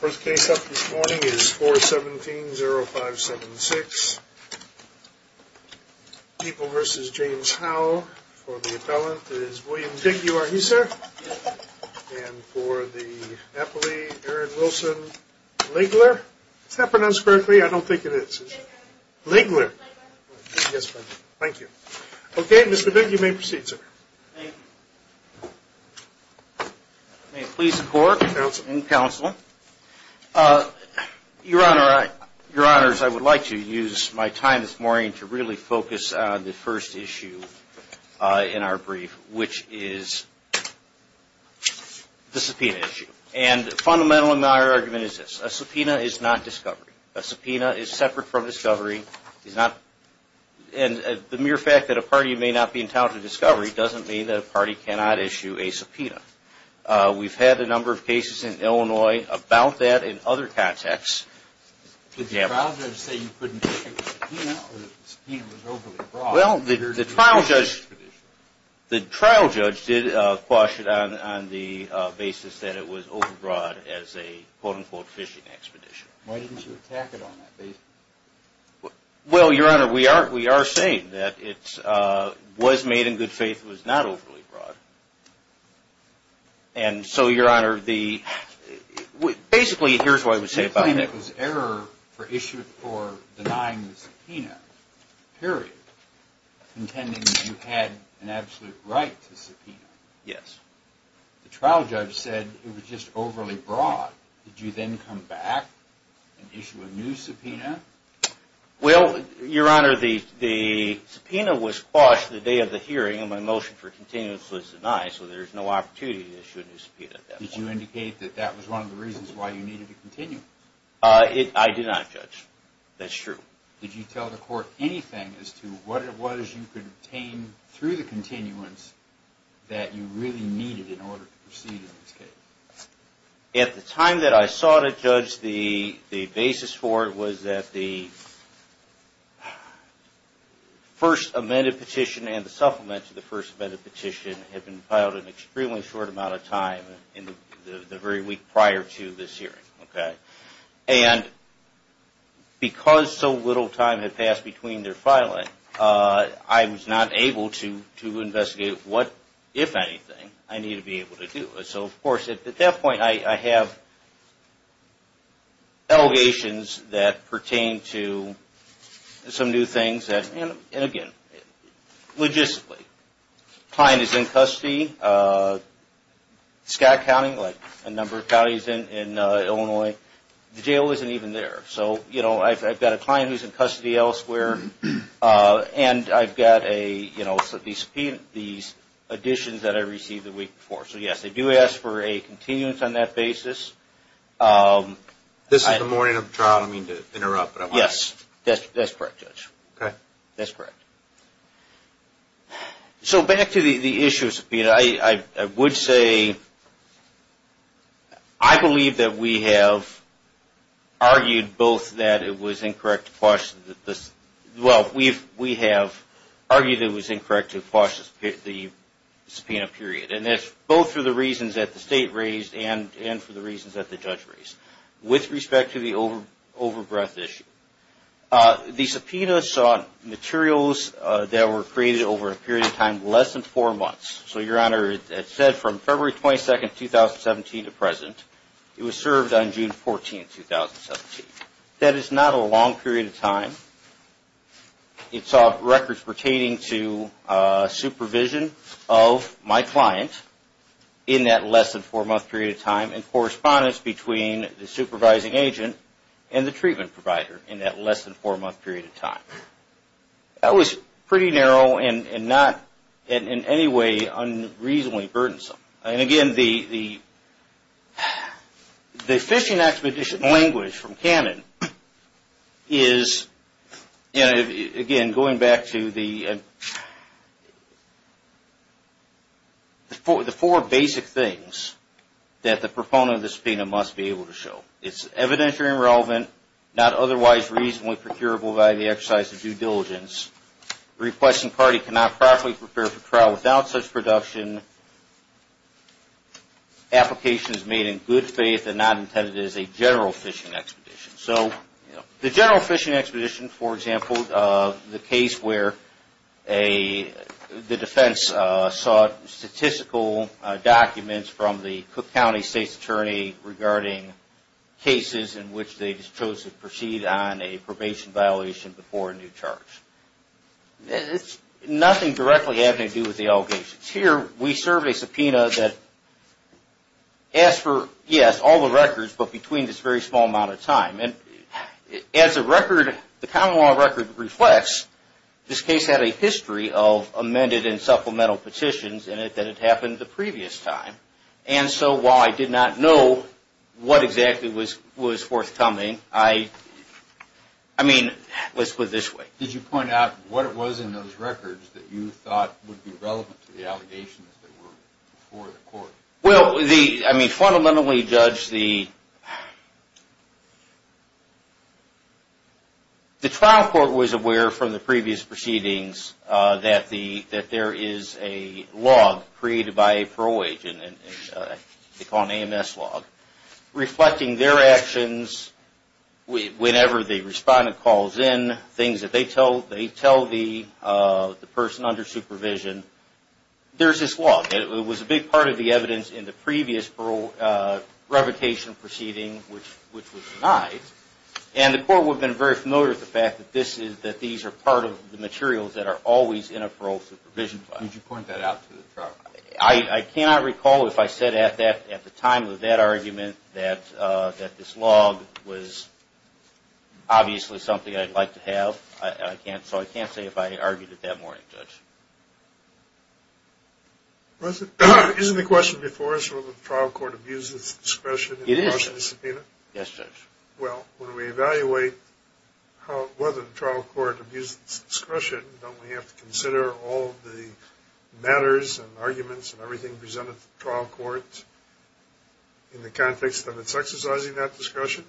First case up this morning is 417-0576. People v. James Howe. For the appellant it is William Bigg. You are he, sir? Yes, sir. And for the appellee, Aaron Wilson Ligler. Is that pronounced correctly? I don't think it is. Ligler. Ligler. Ligler. Yes, sir. Thank you. Okay, Mr. Bigg, you may proceed, sir. Thank you. May it please the Court and Counsel. Your Honor, I would like to use my time this morning to really focus on the first issue in our brief, which is the subpoena issue. And fundamental in our argument is this. A subpoena is not discovery. A subpoena is separate from discovery. And the mere fact that a party may not be entitled to discovery doesn't mean that a party cannot issue a subpoena. We've had a number of cases in Illinois about that in other contexts. Did the trial judge say you couldn't issue a subpoena or that the subpoena was overly broad? Well, the trial judge did caution on the basis that it was overbroad as a, quote-unquote, fishing expedition. Why didn't you attack it on that basis? Well, Your Honor, we are saying that it was made in good faith. It was not overly broad. And so, Your Honor, basically, here's what I would say about it. You claim it was error issued for denying the subpoena, period, intending that you had an absolute right to subpoena. Yes. The trial judge said it was just overly broad. Did you then come back and issue a new subpoena? Well, Your Honor, the subpoena was quashed the day of the hearing and my motion for continuance was denied, so there's no opportunity to issue a new subpoena at that point. Did you indicate that that was one of the reasons why you needed to continue? I did not, Judge. That's true. Did you tell the court anything as to what it was you could obtain through the continuance that you really needed in order to proceed in this case? At the time that I sought a judge, the basis for it was that the first amended petition and the supplement to the first amended petition had been filed an extremely short amount of time in the very week prior to this hearing, okay? And because so little time had passed between their filing, I was not able to investigate what, if anything, I needed to be able to do. So, of course, at that point I have allegations that pertain to some new things that, again, logistically. Client is in custody. Scott County, like a number of counties in Illinois, the jail isn't even there. So, you know, I've got a client who's in custody elsewhere and I've got a, you know, these additions that I received the week before. So, yes, they do ask for a continuance on that basis. This is the morning of the trial. I don't mean to interrupt. Yes, that's correct, Judge. That's correct. So, back to the issue of subpoena, I would say I believe that we have argued both that it was incorrect to quash the subpoena period. And that's both for the reasons that the State raised and for the reasons that the Judge raised with respect to the overbreath issue. The subpoena sought materials that were created over a period of time less than four months. So, Your Honor, it said from February 22, 2017 to present. It was served on June 14, 2017. That is not a long period of time. It saw records pertaining to supervision of my client in that less than four month period of time and correspondence between the supervising agent and the treatment provider in that less than four month period of time. That was pretty narrow and not in any way unreasonably burdensome. And again, the fishing expedition language from Cannon is, again, going back to the four basic things that the proponent of the subpoena must be able to show. It's evidently irrelevant, not otherwise reasonably procurable by the exercise of due diligence, requesting party cannot properly prepare for trial without such production, application is made in good faith and not intended as a general fishing expedition. So, the general fishing expedition, for example, the case where the defense sought statistical documents from the Cook County State's Attorney regarding cases in which they chose to proceed on a probation violation before a new charge. It's nothing directly having to do with the allegations. Here, we serve a subpoena that asks for, yes, all the records, but between this very small amount of time. As the common law record reflects, this case had a history of amended and supplemental petitions in it that had happened the previous time. And so, while I did not know what exactly was forthcoming, I mean, let's put it this way. Did you point out what it was in those records that you thought would be relevant to the allegations that were before the court? Well, I mean, fundamentally, Judge, the trial court was aware from the previous proceedings that there is a log created by a parole agent. They call it an AMS log. Reflecting their actions, whenever the respondent calls in, things that they tell the person under supervision, there's this log. It was a big part of the evidence in the previous parole revocation proceeding, which was denied. And the court would have been very familiar with the fact that these are part of the materials that are always in a parole supervision file. Would you point that out to the trial court? I cannot recall if I said at the time of that argument that this log was obviously something I'd like to have. So I can't say if I argued it that morning, Judge. Isn't the question before us whether the trial court abuses discretion in the motion to subpoena? It is, Judge. Yes, Judge. Well, when we evaluate whether the trial court abuses discretion, don't we have to consider all the matters and arguments and everything presented to the trial court in the context that it's exercising that discretion?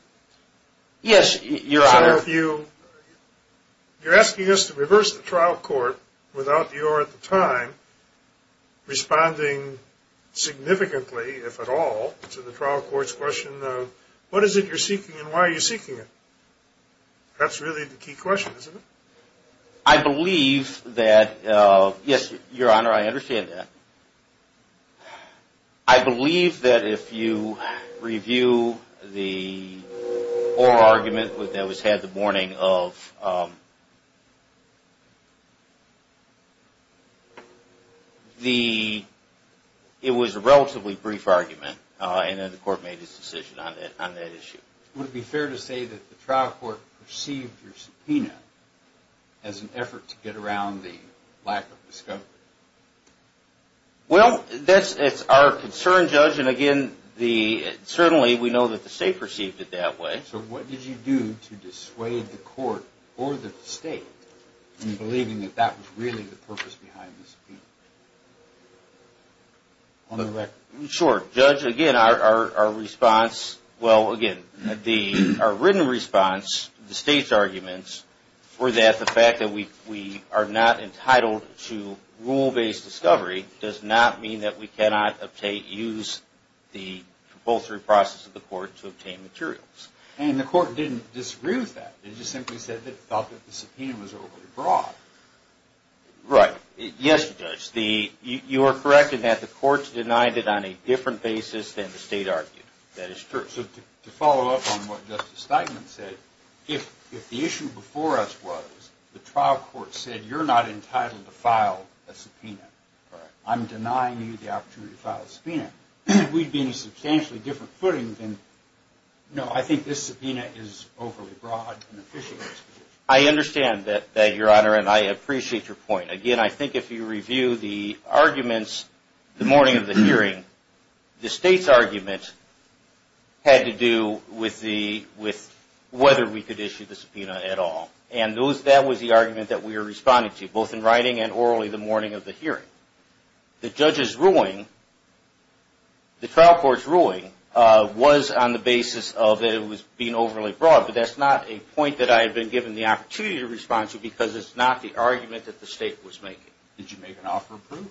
Yes, Your Honor. You're asking us to reverse the trial court without your, at the time, responding significantly, if at all, to the trial court's question of what is it you're seeking and why are you seeking it? That's really the key question, isn't it? I believe that – yes, Your Honor, I understand that. I believe that if you review the oral argument that was had the morning of – it was a relatively brief argument and then the court made its decision on that issue. Would it be fair to say that the trial court perceived your subpoena as an effort to get around the lack of discovery? Well, that's our concern, Judge, and again, certainly we know that the state perceived it that way. So what did you do to dissuade the court or the state in believing that that was really the purpose behind the subpoena? On the record. Sure. Judge, again, our response – well, again, our written response to the state's arguments were that the fact that we are not entitled to rule-based discovery does not mean that we cannot use the compulsory process of the court to obtain materials. And the court didn't disagree with that. It just simply said that it felt that the subpoena was overly broad. Right. Yes, Judge. You are correct in that the court denied it on a different basis than the state argued. That is true. So to follow up on what Justice Steigman said, if the issue before us was the trial court said you're not entitled to file a subpoena, I'm denying you the opportunity to file a subpoena, we'd be in a substantially different footing than, no, I think this subpoena is overly broad and official. I understand that, Your Honor, and I appreciate your point. Again, I think if you review the arguments the morning of the hearing, the state's argument had to do with whether we could issue the subpoena at all. And that was the argument that we were responding to, both in writing and orally the morning of the hearing. The judge's ruling, the trial court's ruling, was on the basis of it was being overly broad. But that's not a point that I had been given the opportunity to respond to because it's not the argument that the state was making. Did you make an offer of proof?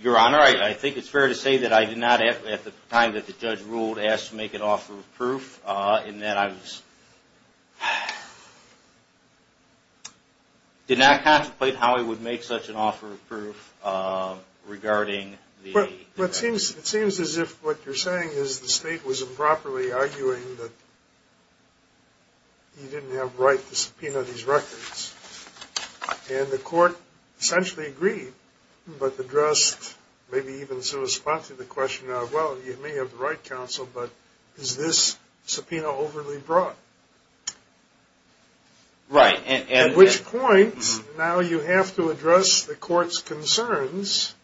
Your Honor, I think it's fair to say that I did not, at the time that the judge ruled, ask to make an offer of proof in that I was – did not contemplate how I would make such an offer of proof regarding the – Well, it seems as if what you're saying is the state was improperly arguing that you didn't have the right to subpoena these records. And the court essentially agreed, but addressed, maybe even sort of responded to the question of, well, you may have the right, counsel, but is this subpoena overly broad? Right. At which point, now you have to address the court's concerns.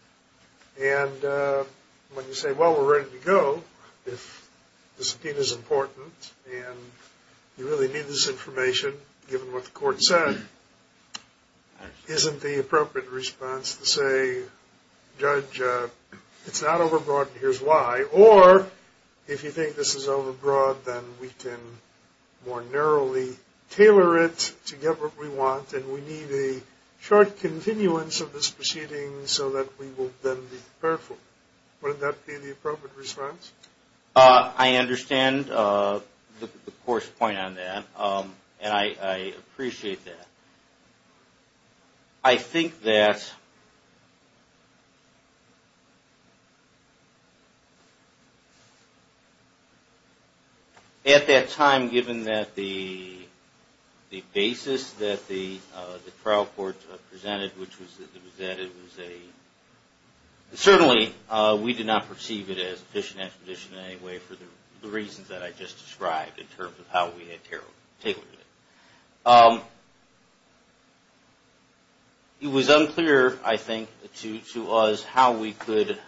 And when you say, well, we're ready to go, if the subpoena's important and you really need this information, given what the court said, isn't the appropriate response to say, judge, it's not overbroad and here's why. Or, if you think this is overbroad, then we can more narrowly tailor it to get what we want, and we need a short continuance of this proceeding so that we will then be prepared for it. Wouldn't that be the appropriate response? I understand the court's point on that, and I appreciate that. I think that at that time, given that the basis that the trial court presented, which was that it was a – certainly, we did not perceive it as a fishing expedition in any way for the reasons that I just described in terms of how we had tailored it. It was unclear, I think, to us how we could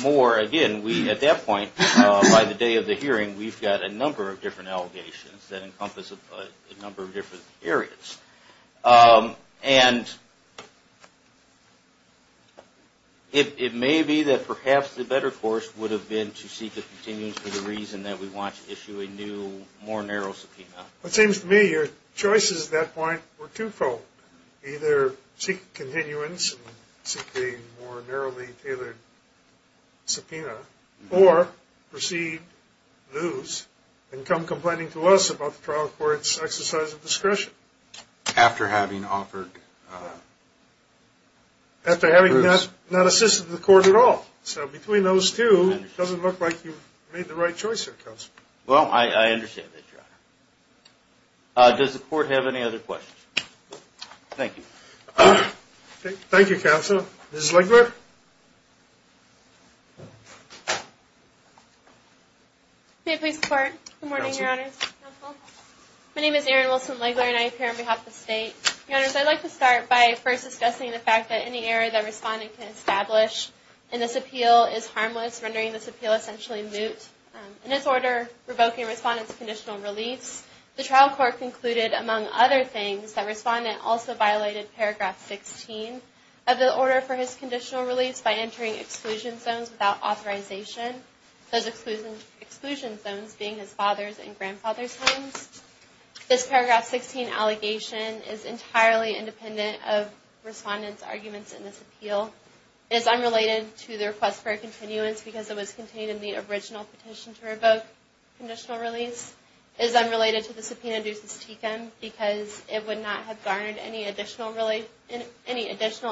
more – again, at that point, by the day of the hearing, we've got a number of different allegations that encompass a number of different areas. And it may be that perhaps the better course would have been to seek a continuance for the reason that we want to issue a new, more narrow subpoena. It seems to me your choices at that point were two-fold. Either seek a continuance and seek a more narrowly tailored subpoena, or proceed, lose, and come complaining to us about the trial court's exercise of discretion. After having offered – After having not assisted the court at all. So between those two, it doesn't look like you've made the right choice here, Counselor. Well, I understand that, Your Honor. Does the court have any other questions? Thank you. Thank you, Counsel. Ms. Legler? May it please the Court. Good morning, Your Honors. My name is Erin Wilson-Legler, and I appear on behalf of the State. Your Honors, I'd like to start by first discussing the fact that any error that Respondent can establish in this appeal is harmless, rendering this appeal essentially moot. In its order revoking Respondent's conditional release, the trial court concluded, among other things, that Respondent also violated paragraph 16 of the order for his conditional release by entering exclusion zones without authorization, those exclusion zones being his father's and grandfather's homes. This paragraph 16 allegation is entirely independent of Respondent's arguments in this appeal. It is unrelated to the request for a continuance because it was contained in the original petition to revoke conditional release. It is unrelated to the subpoena due to Steekem because it would not have garnered any additional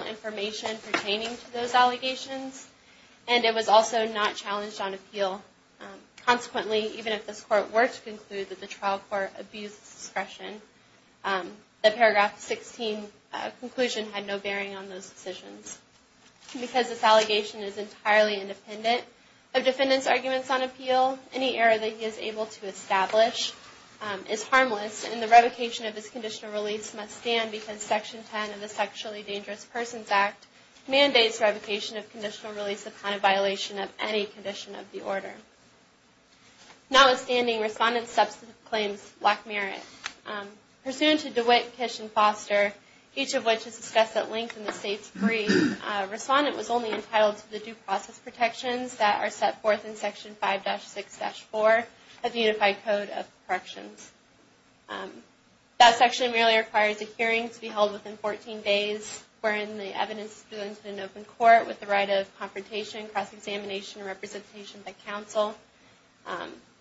information pertaining to those allegations. And it was also not challenged on appeal. Consequently, even if this Court were to conclude that the trial court abused discretion, the paragraph 16 conclusion had no bearing on those decisions. Because this allegation is entirely independent of Defendant's arguments on appeal, any error that he is able to establish is harmless, and the revocation of his conditional release must stand because Section 10 of the Sexually Dangerous Persons Act mandates revocation of conditional release upon a violation of any condition of the order. Notwithstanding, Respondent's substantive claims lack merit. Pursuant to DeWitt, Kish, and Foster, each of which is discussed at length in the State's brief, Respondent was only entitled to the due process protections that are set forth in Section 5-6-4 of the Unified Code of Corrections. That section merely requires a hearing to be held within 14 days, wherein the evidence is presented in open court with the right of confrontation, cross-examination, and representation by counsel.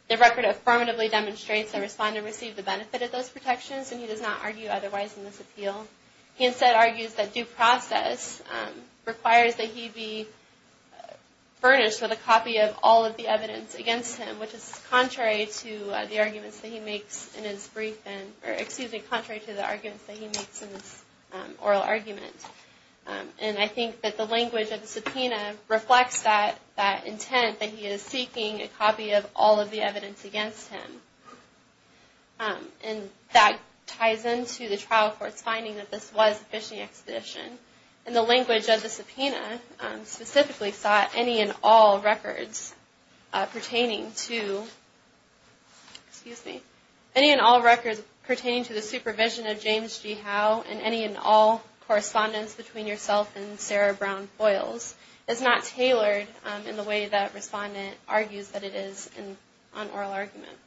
The record affirmatively demonstrates that Respondent received the benefit of those protections, and he does not argue otherwise in this appeal. He instead argues that due process requires that he be furnished with a copy of all of the evidence against him, which is contrary to the arguments that he makes in his oral argument. And I think that the language of the subpoena reflects that intent that he is seeking a copy of all of the evidence against him. And that ties into the trial court's finding that this was a phishing expedition. And the language of the subpoena specifically sought any and all records pertaining to the supervision of James G. Howe and any and all correspondence between yourself and Sarah Brown Foyles is not tailored in the way that Respondent argues that it is on oral argument.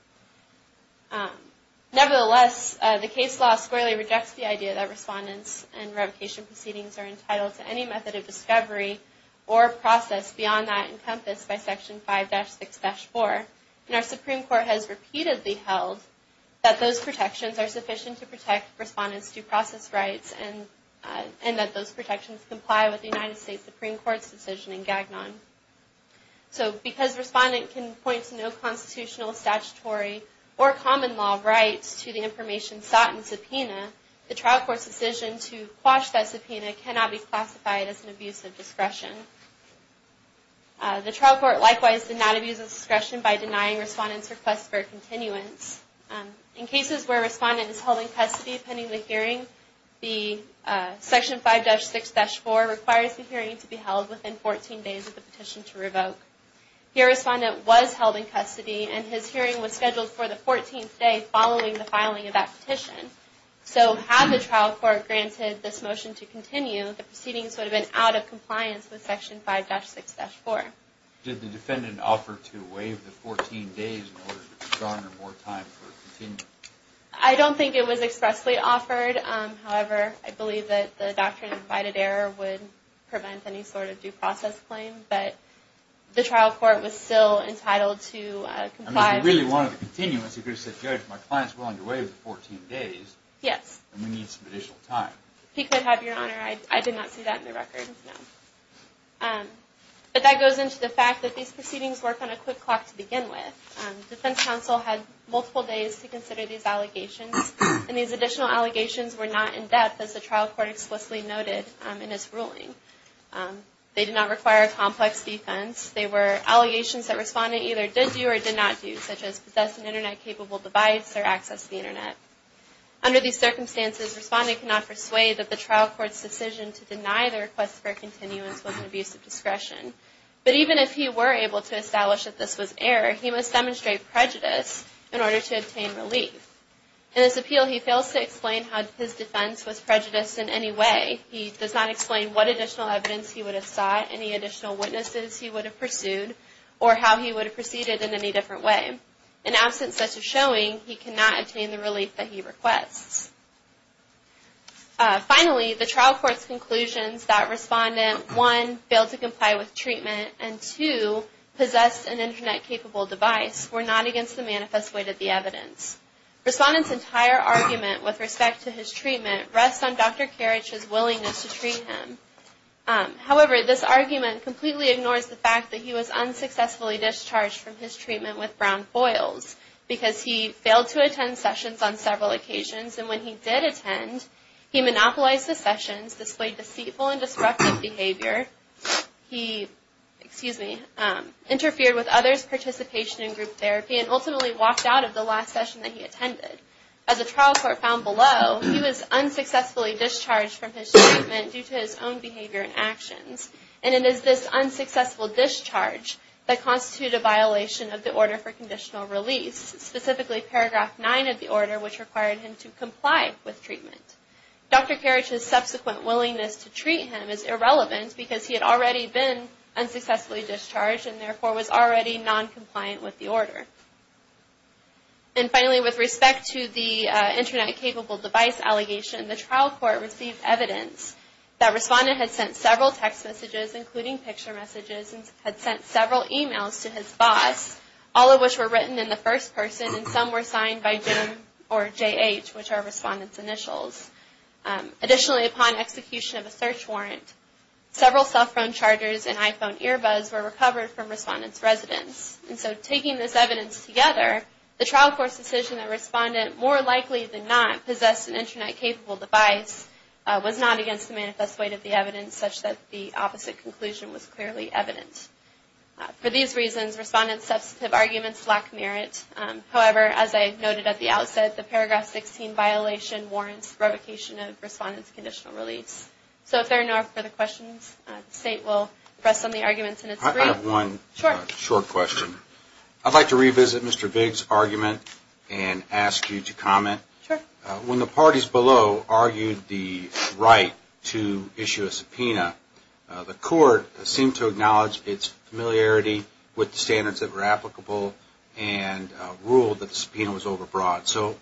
Nevertheless, the case law squarely rejects the idea that Respondents and revocation proceedings are entitled to any method of discovery or process beyond that encompassed by Section 5-6-4. And our Supreme Court has repeatedly held that those protections are sufficient to protect Respondent's due process rights and that those protections comply with the United States Supreme Court's decision in Gagnon. So because Respondent can point to no constitutional, statutory, or common law rights to the information sought in subpoena, the trial court's decision to quash that subpoena cannot be classified as an abuse of discretion. The trial court likewise did not abuse of discretion by denying Respondent's request for a continuance. In cases where Respondent is held in custody pending the hearing, the Section 5-6-4 requires the hearing to be held within 14 days of the petition to revoke. Here Respondent was held in custody and his hearing was scheduled for the 14th day following the filing of that petition. So had the trial court granted this motion to continue, the proceedings would have been out of compliance with Section 5-6-4. Did the Defendant offer to waive the 14 days in order to garner more time for a continuation? I don't think it was expressly offered. However, I believe that the doctrine of invited error would prevent any sort of due process claim. But the trial court was still entitled to comply. If he really wanted a continuance, he could have said, Judge, my client is willing to waive the 14 days. Yes. And we need some additional time. He could have, Your Honor. I did not see that in the record, no. But that goes into the fact that these proceedings work on a quick clock to begin with. The defense counsel had multiple days to consider these allegations. And these additional allegations were not in-depth, as the trial court explicitly noted in its ruling. They did not require a complex defense. They were allegations that Respondent either did do or did not do, such as possess an Internet-capable device or access the Internet. Under these circumstances, Respondent cannot persuade that the trial court's decision to deny the request for a continuance was an abuse of discretion. But even if he were able to establish that this was error, he must demonstrate prejudice in order to obtain relief. In this appeal, he fails to explain how his defense was prejudiced in any way. He does not explain what additional evidence he would have sought, any additional witnesses he would have pursued, or how he would have proceeded in any different way. In absence of such a showing, he cannot obtain the relief that he requests. Finally, the trial court's conclusions that Respondent 1. Failed to comply with treatment and 2. Possessed an Internet-capable device were not against the manifest way to the evidence. Respondent's entire argument with respect to his treatment rests on Dr. Karich's willingness to treat him. However, this argument completely ignores the fact that he was unsuccessfully discharged from his treatment with brown foils because he failed to attend sessions on several occasions. And when he did attend, he monopolized the sessions, displayed deceitful and disruptive behavior, he interfered with others' participation in group therapy, and ultimately walked out of the last session that he attended. As the trial court found below, he was unsuccessfully discharged from his treatment due to his own behavior and actions. And it is this unsuccessful discharge that constitutes a violation of the order for conditional release, specifically paragraph 9 of the order which required him to comply with treatment. Dr. Karich's subsequent willingness to treat him is irrelevant because he had already been unsuccessfully discharged and therefore was already non-compliant with the order. And finally, with respect to the Internet-capable device allegation, the trial court received evidence that Respondent had sent several text messages, including picture messages, and had sent several emails to his boss, all of which were written in the first person, and some were signed by Jim or J.H., which are Respondent's initials. Additionally, upon execution of a search warrant, several cell phone chargers and iPhone earbuds were recovered from Respondent's residence. And so taking this evidence together, the trial court's decision that Respondent, more likely than not, possessed an Internet-capable device was not against the manifest weight of the evidence, such that the opposite conclusion was clearly evident. For these reasons, Respondent's substantive arguments lack merit. However, as I noted at the outset, the paragraph 16 violation warrants revocation of Respondent's conditional release. So if there are no further questions, the State will press on the arguments in its brief. I have one short question. I'd like to revisit Mr. Bigg's argument and ask you to comment. When the parties below argued the right to issue a subpoena, the court seemed to acknowledge its familiarity with the standards that were applicable and ruled that the subpoena was overbroad. So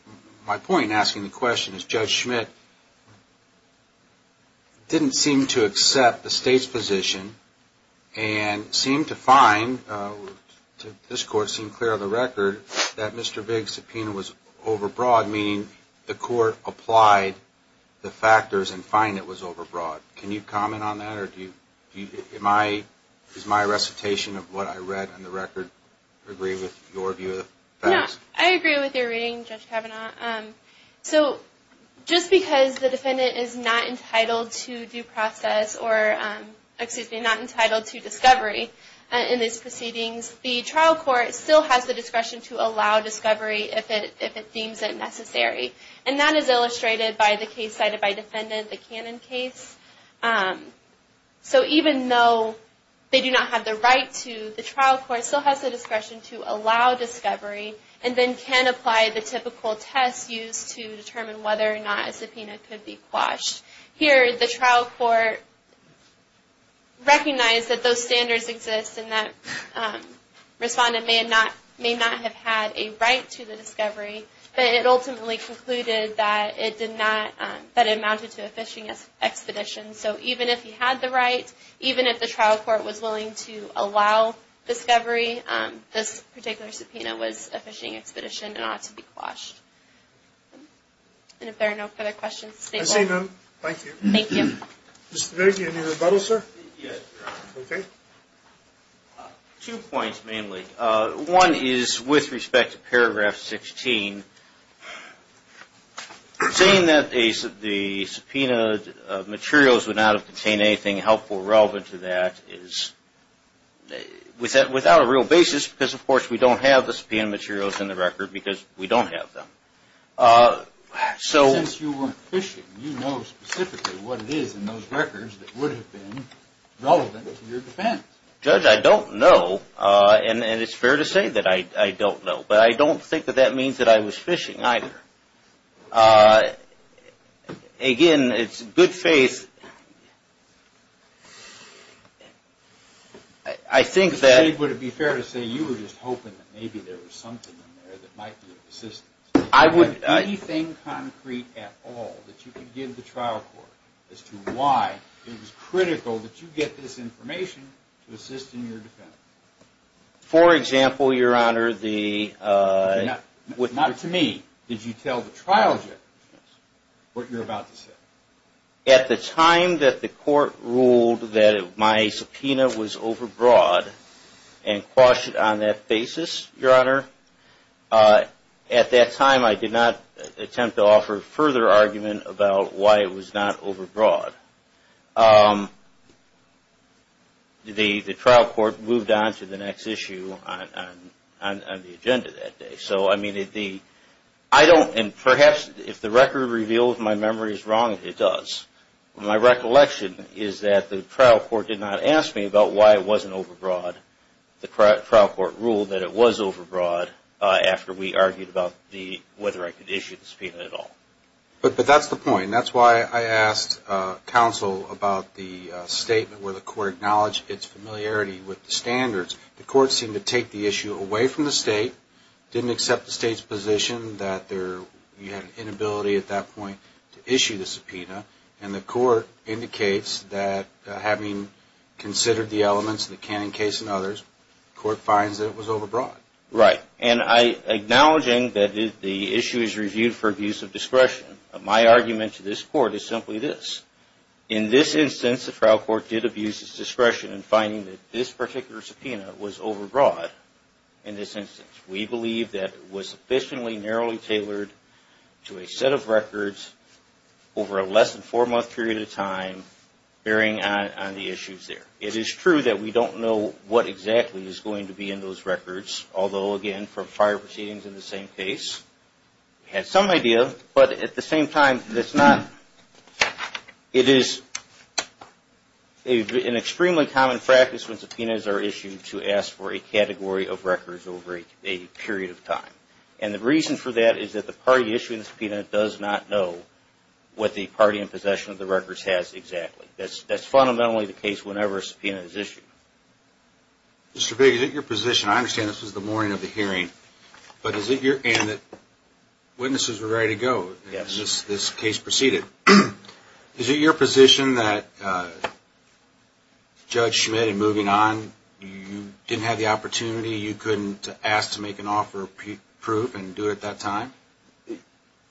my point in asking the question is Judge Schmidt didn't seem to accept the State's position and seemed to find, this Court seemed clear of the record, that Mr. Bigg's subpoena was overbroad, meaning the Court applied the factors and find it was overbroad. Can you comment on that? Is my recitation of what I read in the record agree with your view of the facts? No, I agree with your reading, Judge Kavanaugh. So just because the defendant is not entitled to discovery in these proceedings, the trial court still has the discretion to allow discovery if it deems it necessary. And that is illustrated by the case cited by defendant, the Cannon case. So even though they do not have the right to, the trial court still has the discretion to allow discovery and then can apply the typical test used to determine whether or not a subpoena could be quashed. Here, the trial court recognized that those standards exist and that respondent may not have had a right to the discovery, but it ultimately concluded that it did not, that it amounted to a fishing expedition. So even if he had the right, even if the trial court was willing to allow discovery, this particular subpoena was a fishing expedition and ought to be quashed. And if there are no further questions, this is the end. I see none. Thank you. Thank you. Mr. Bigg, any rebuttal, sir? Yes, Your Honor. Okay. Two points, mainly. One is with respect to paragraph 16. Saying that the subpoena materials would not have contained anything helpful or relevant to that is without a real basis because, of course, we don't have the subpoena materials in the record because we don't have them. Since you weren't fishing, you know specifically what it is in those records that would have been relevant to your defense. Judge, I don't know, and it's fair to say that I don't know, but I don't think that that means that I was fishing either. Again, it's good faith. I think that… Mr. Bigg, would it be fair to say you were just hoping that maybe there was something in there that might be of assistance? I would… Was there anything concrete at all that you could give the trial court as to why it was critical that you get this information to assist in your defense? For example, Your Honor, the… Not to me. Did you tell the trial judge what you're about to say? At the time that the court ruled that my subpoena was overbroad and quashed on that basis, Your Honor, at that time I did not attempt to offer further argument about why it was not overbroad. The trial court moved on to the next issue on the agenda that day. So, I mean, the… I don't, and perhaps if the record reveals my memory is wrong, it does. My recollection is that the trial court did not ask me about why it wasn't overbroad. The trial court ruled that it was overbroad after we argued about the… whether I could issue the subpoena at all. But that's the point. That's why I asked counsel about the statement where the court acknowledged its familiarity with the standards. The court seemed to take the issue away from the state, didn't accept the state's position that there… you had an inability at that point to issue the subpoena, and the court indicates that having considered the elements of the Cannon case and others, the court finds that it was overbroad. Right. And I… acknowledging that the issue is reviewed for abuse of discretion, my argument to this court is simply this. In this instance, the trial court did abuse its discretion in finding that this particular subpoena was overbroad. In this instance, we believe that it was sufficiently narrowly tailored to a set of records over a less than four-month period of time, bearing on the issues there. It is true that we don't know what exactly is going to be in those records, although, again, from prior proceedings in the same case, we had some idea. But at the same time, it's not… It's when subpoenas are issued to ask for a category of records over a period of time. And the reason for that is that the party issuing the subpoena does not know what the party in possession of the records has exactly. That's fundamentally the case whenever a subpoena is issued. Mr. Bigg, is it your position? I understand this was the morning of the hearing, but is it your… and witnesses are ready to go. Yes. This case proceeded. Is it your position that Judge Schmidt, in moving on, you didn't have the opportunity, you couldn't ask to make an offer of proof and do it at that time?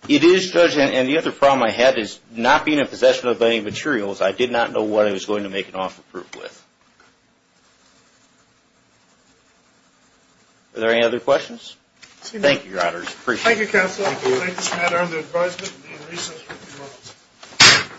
It is, Judge, and the other problem I had is not being in possession of any materials, I did not know what I was going to make an offer of proof with. Are there any other questions? Thank you, Your Honors. Appreciate it. Thank you, Counsel. Thank you. Thank you, Mr. Maddow. The advisement and the research will be launched.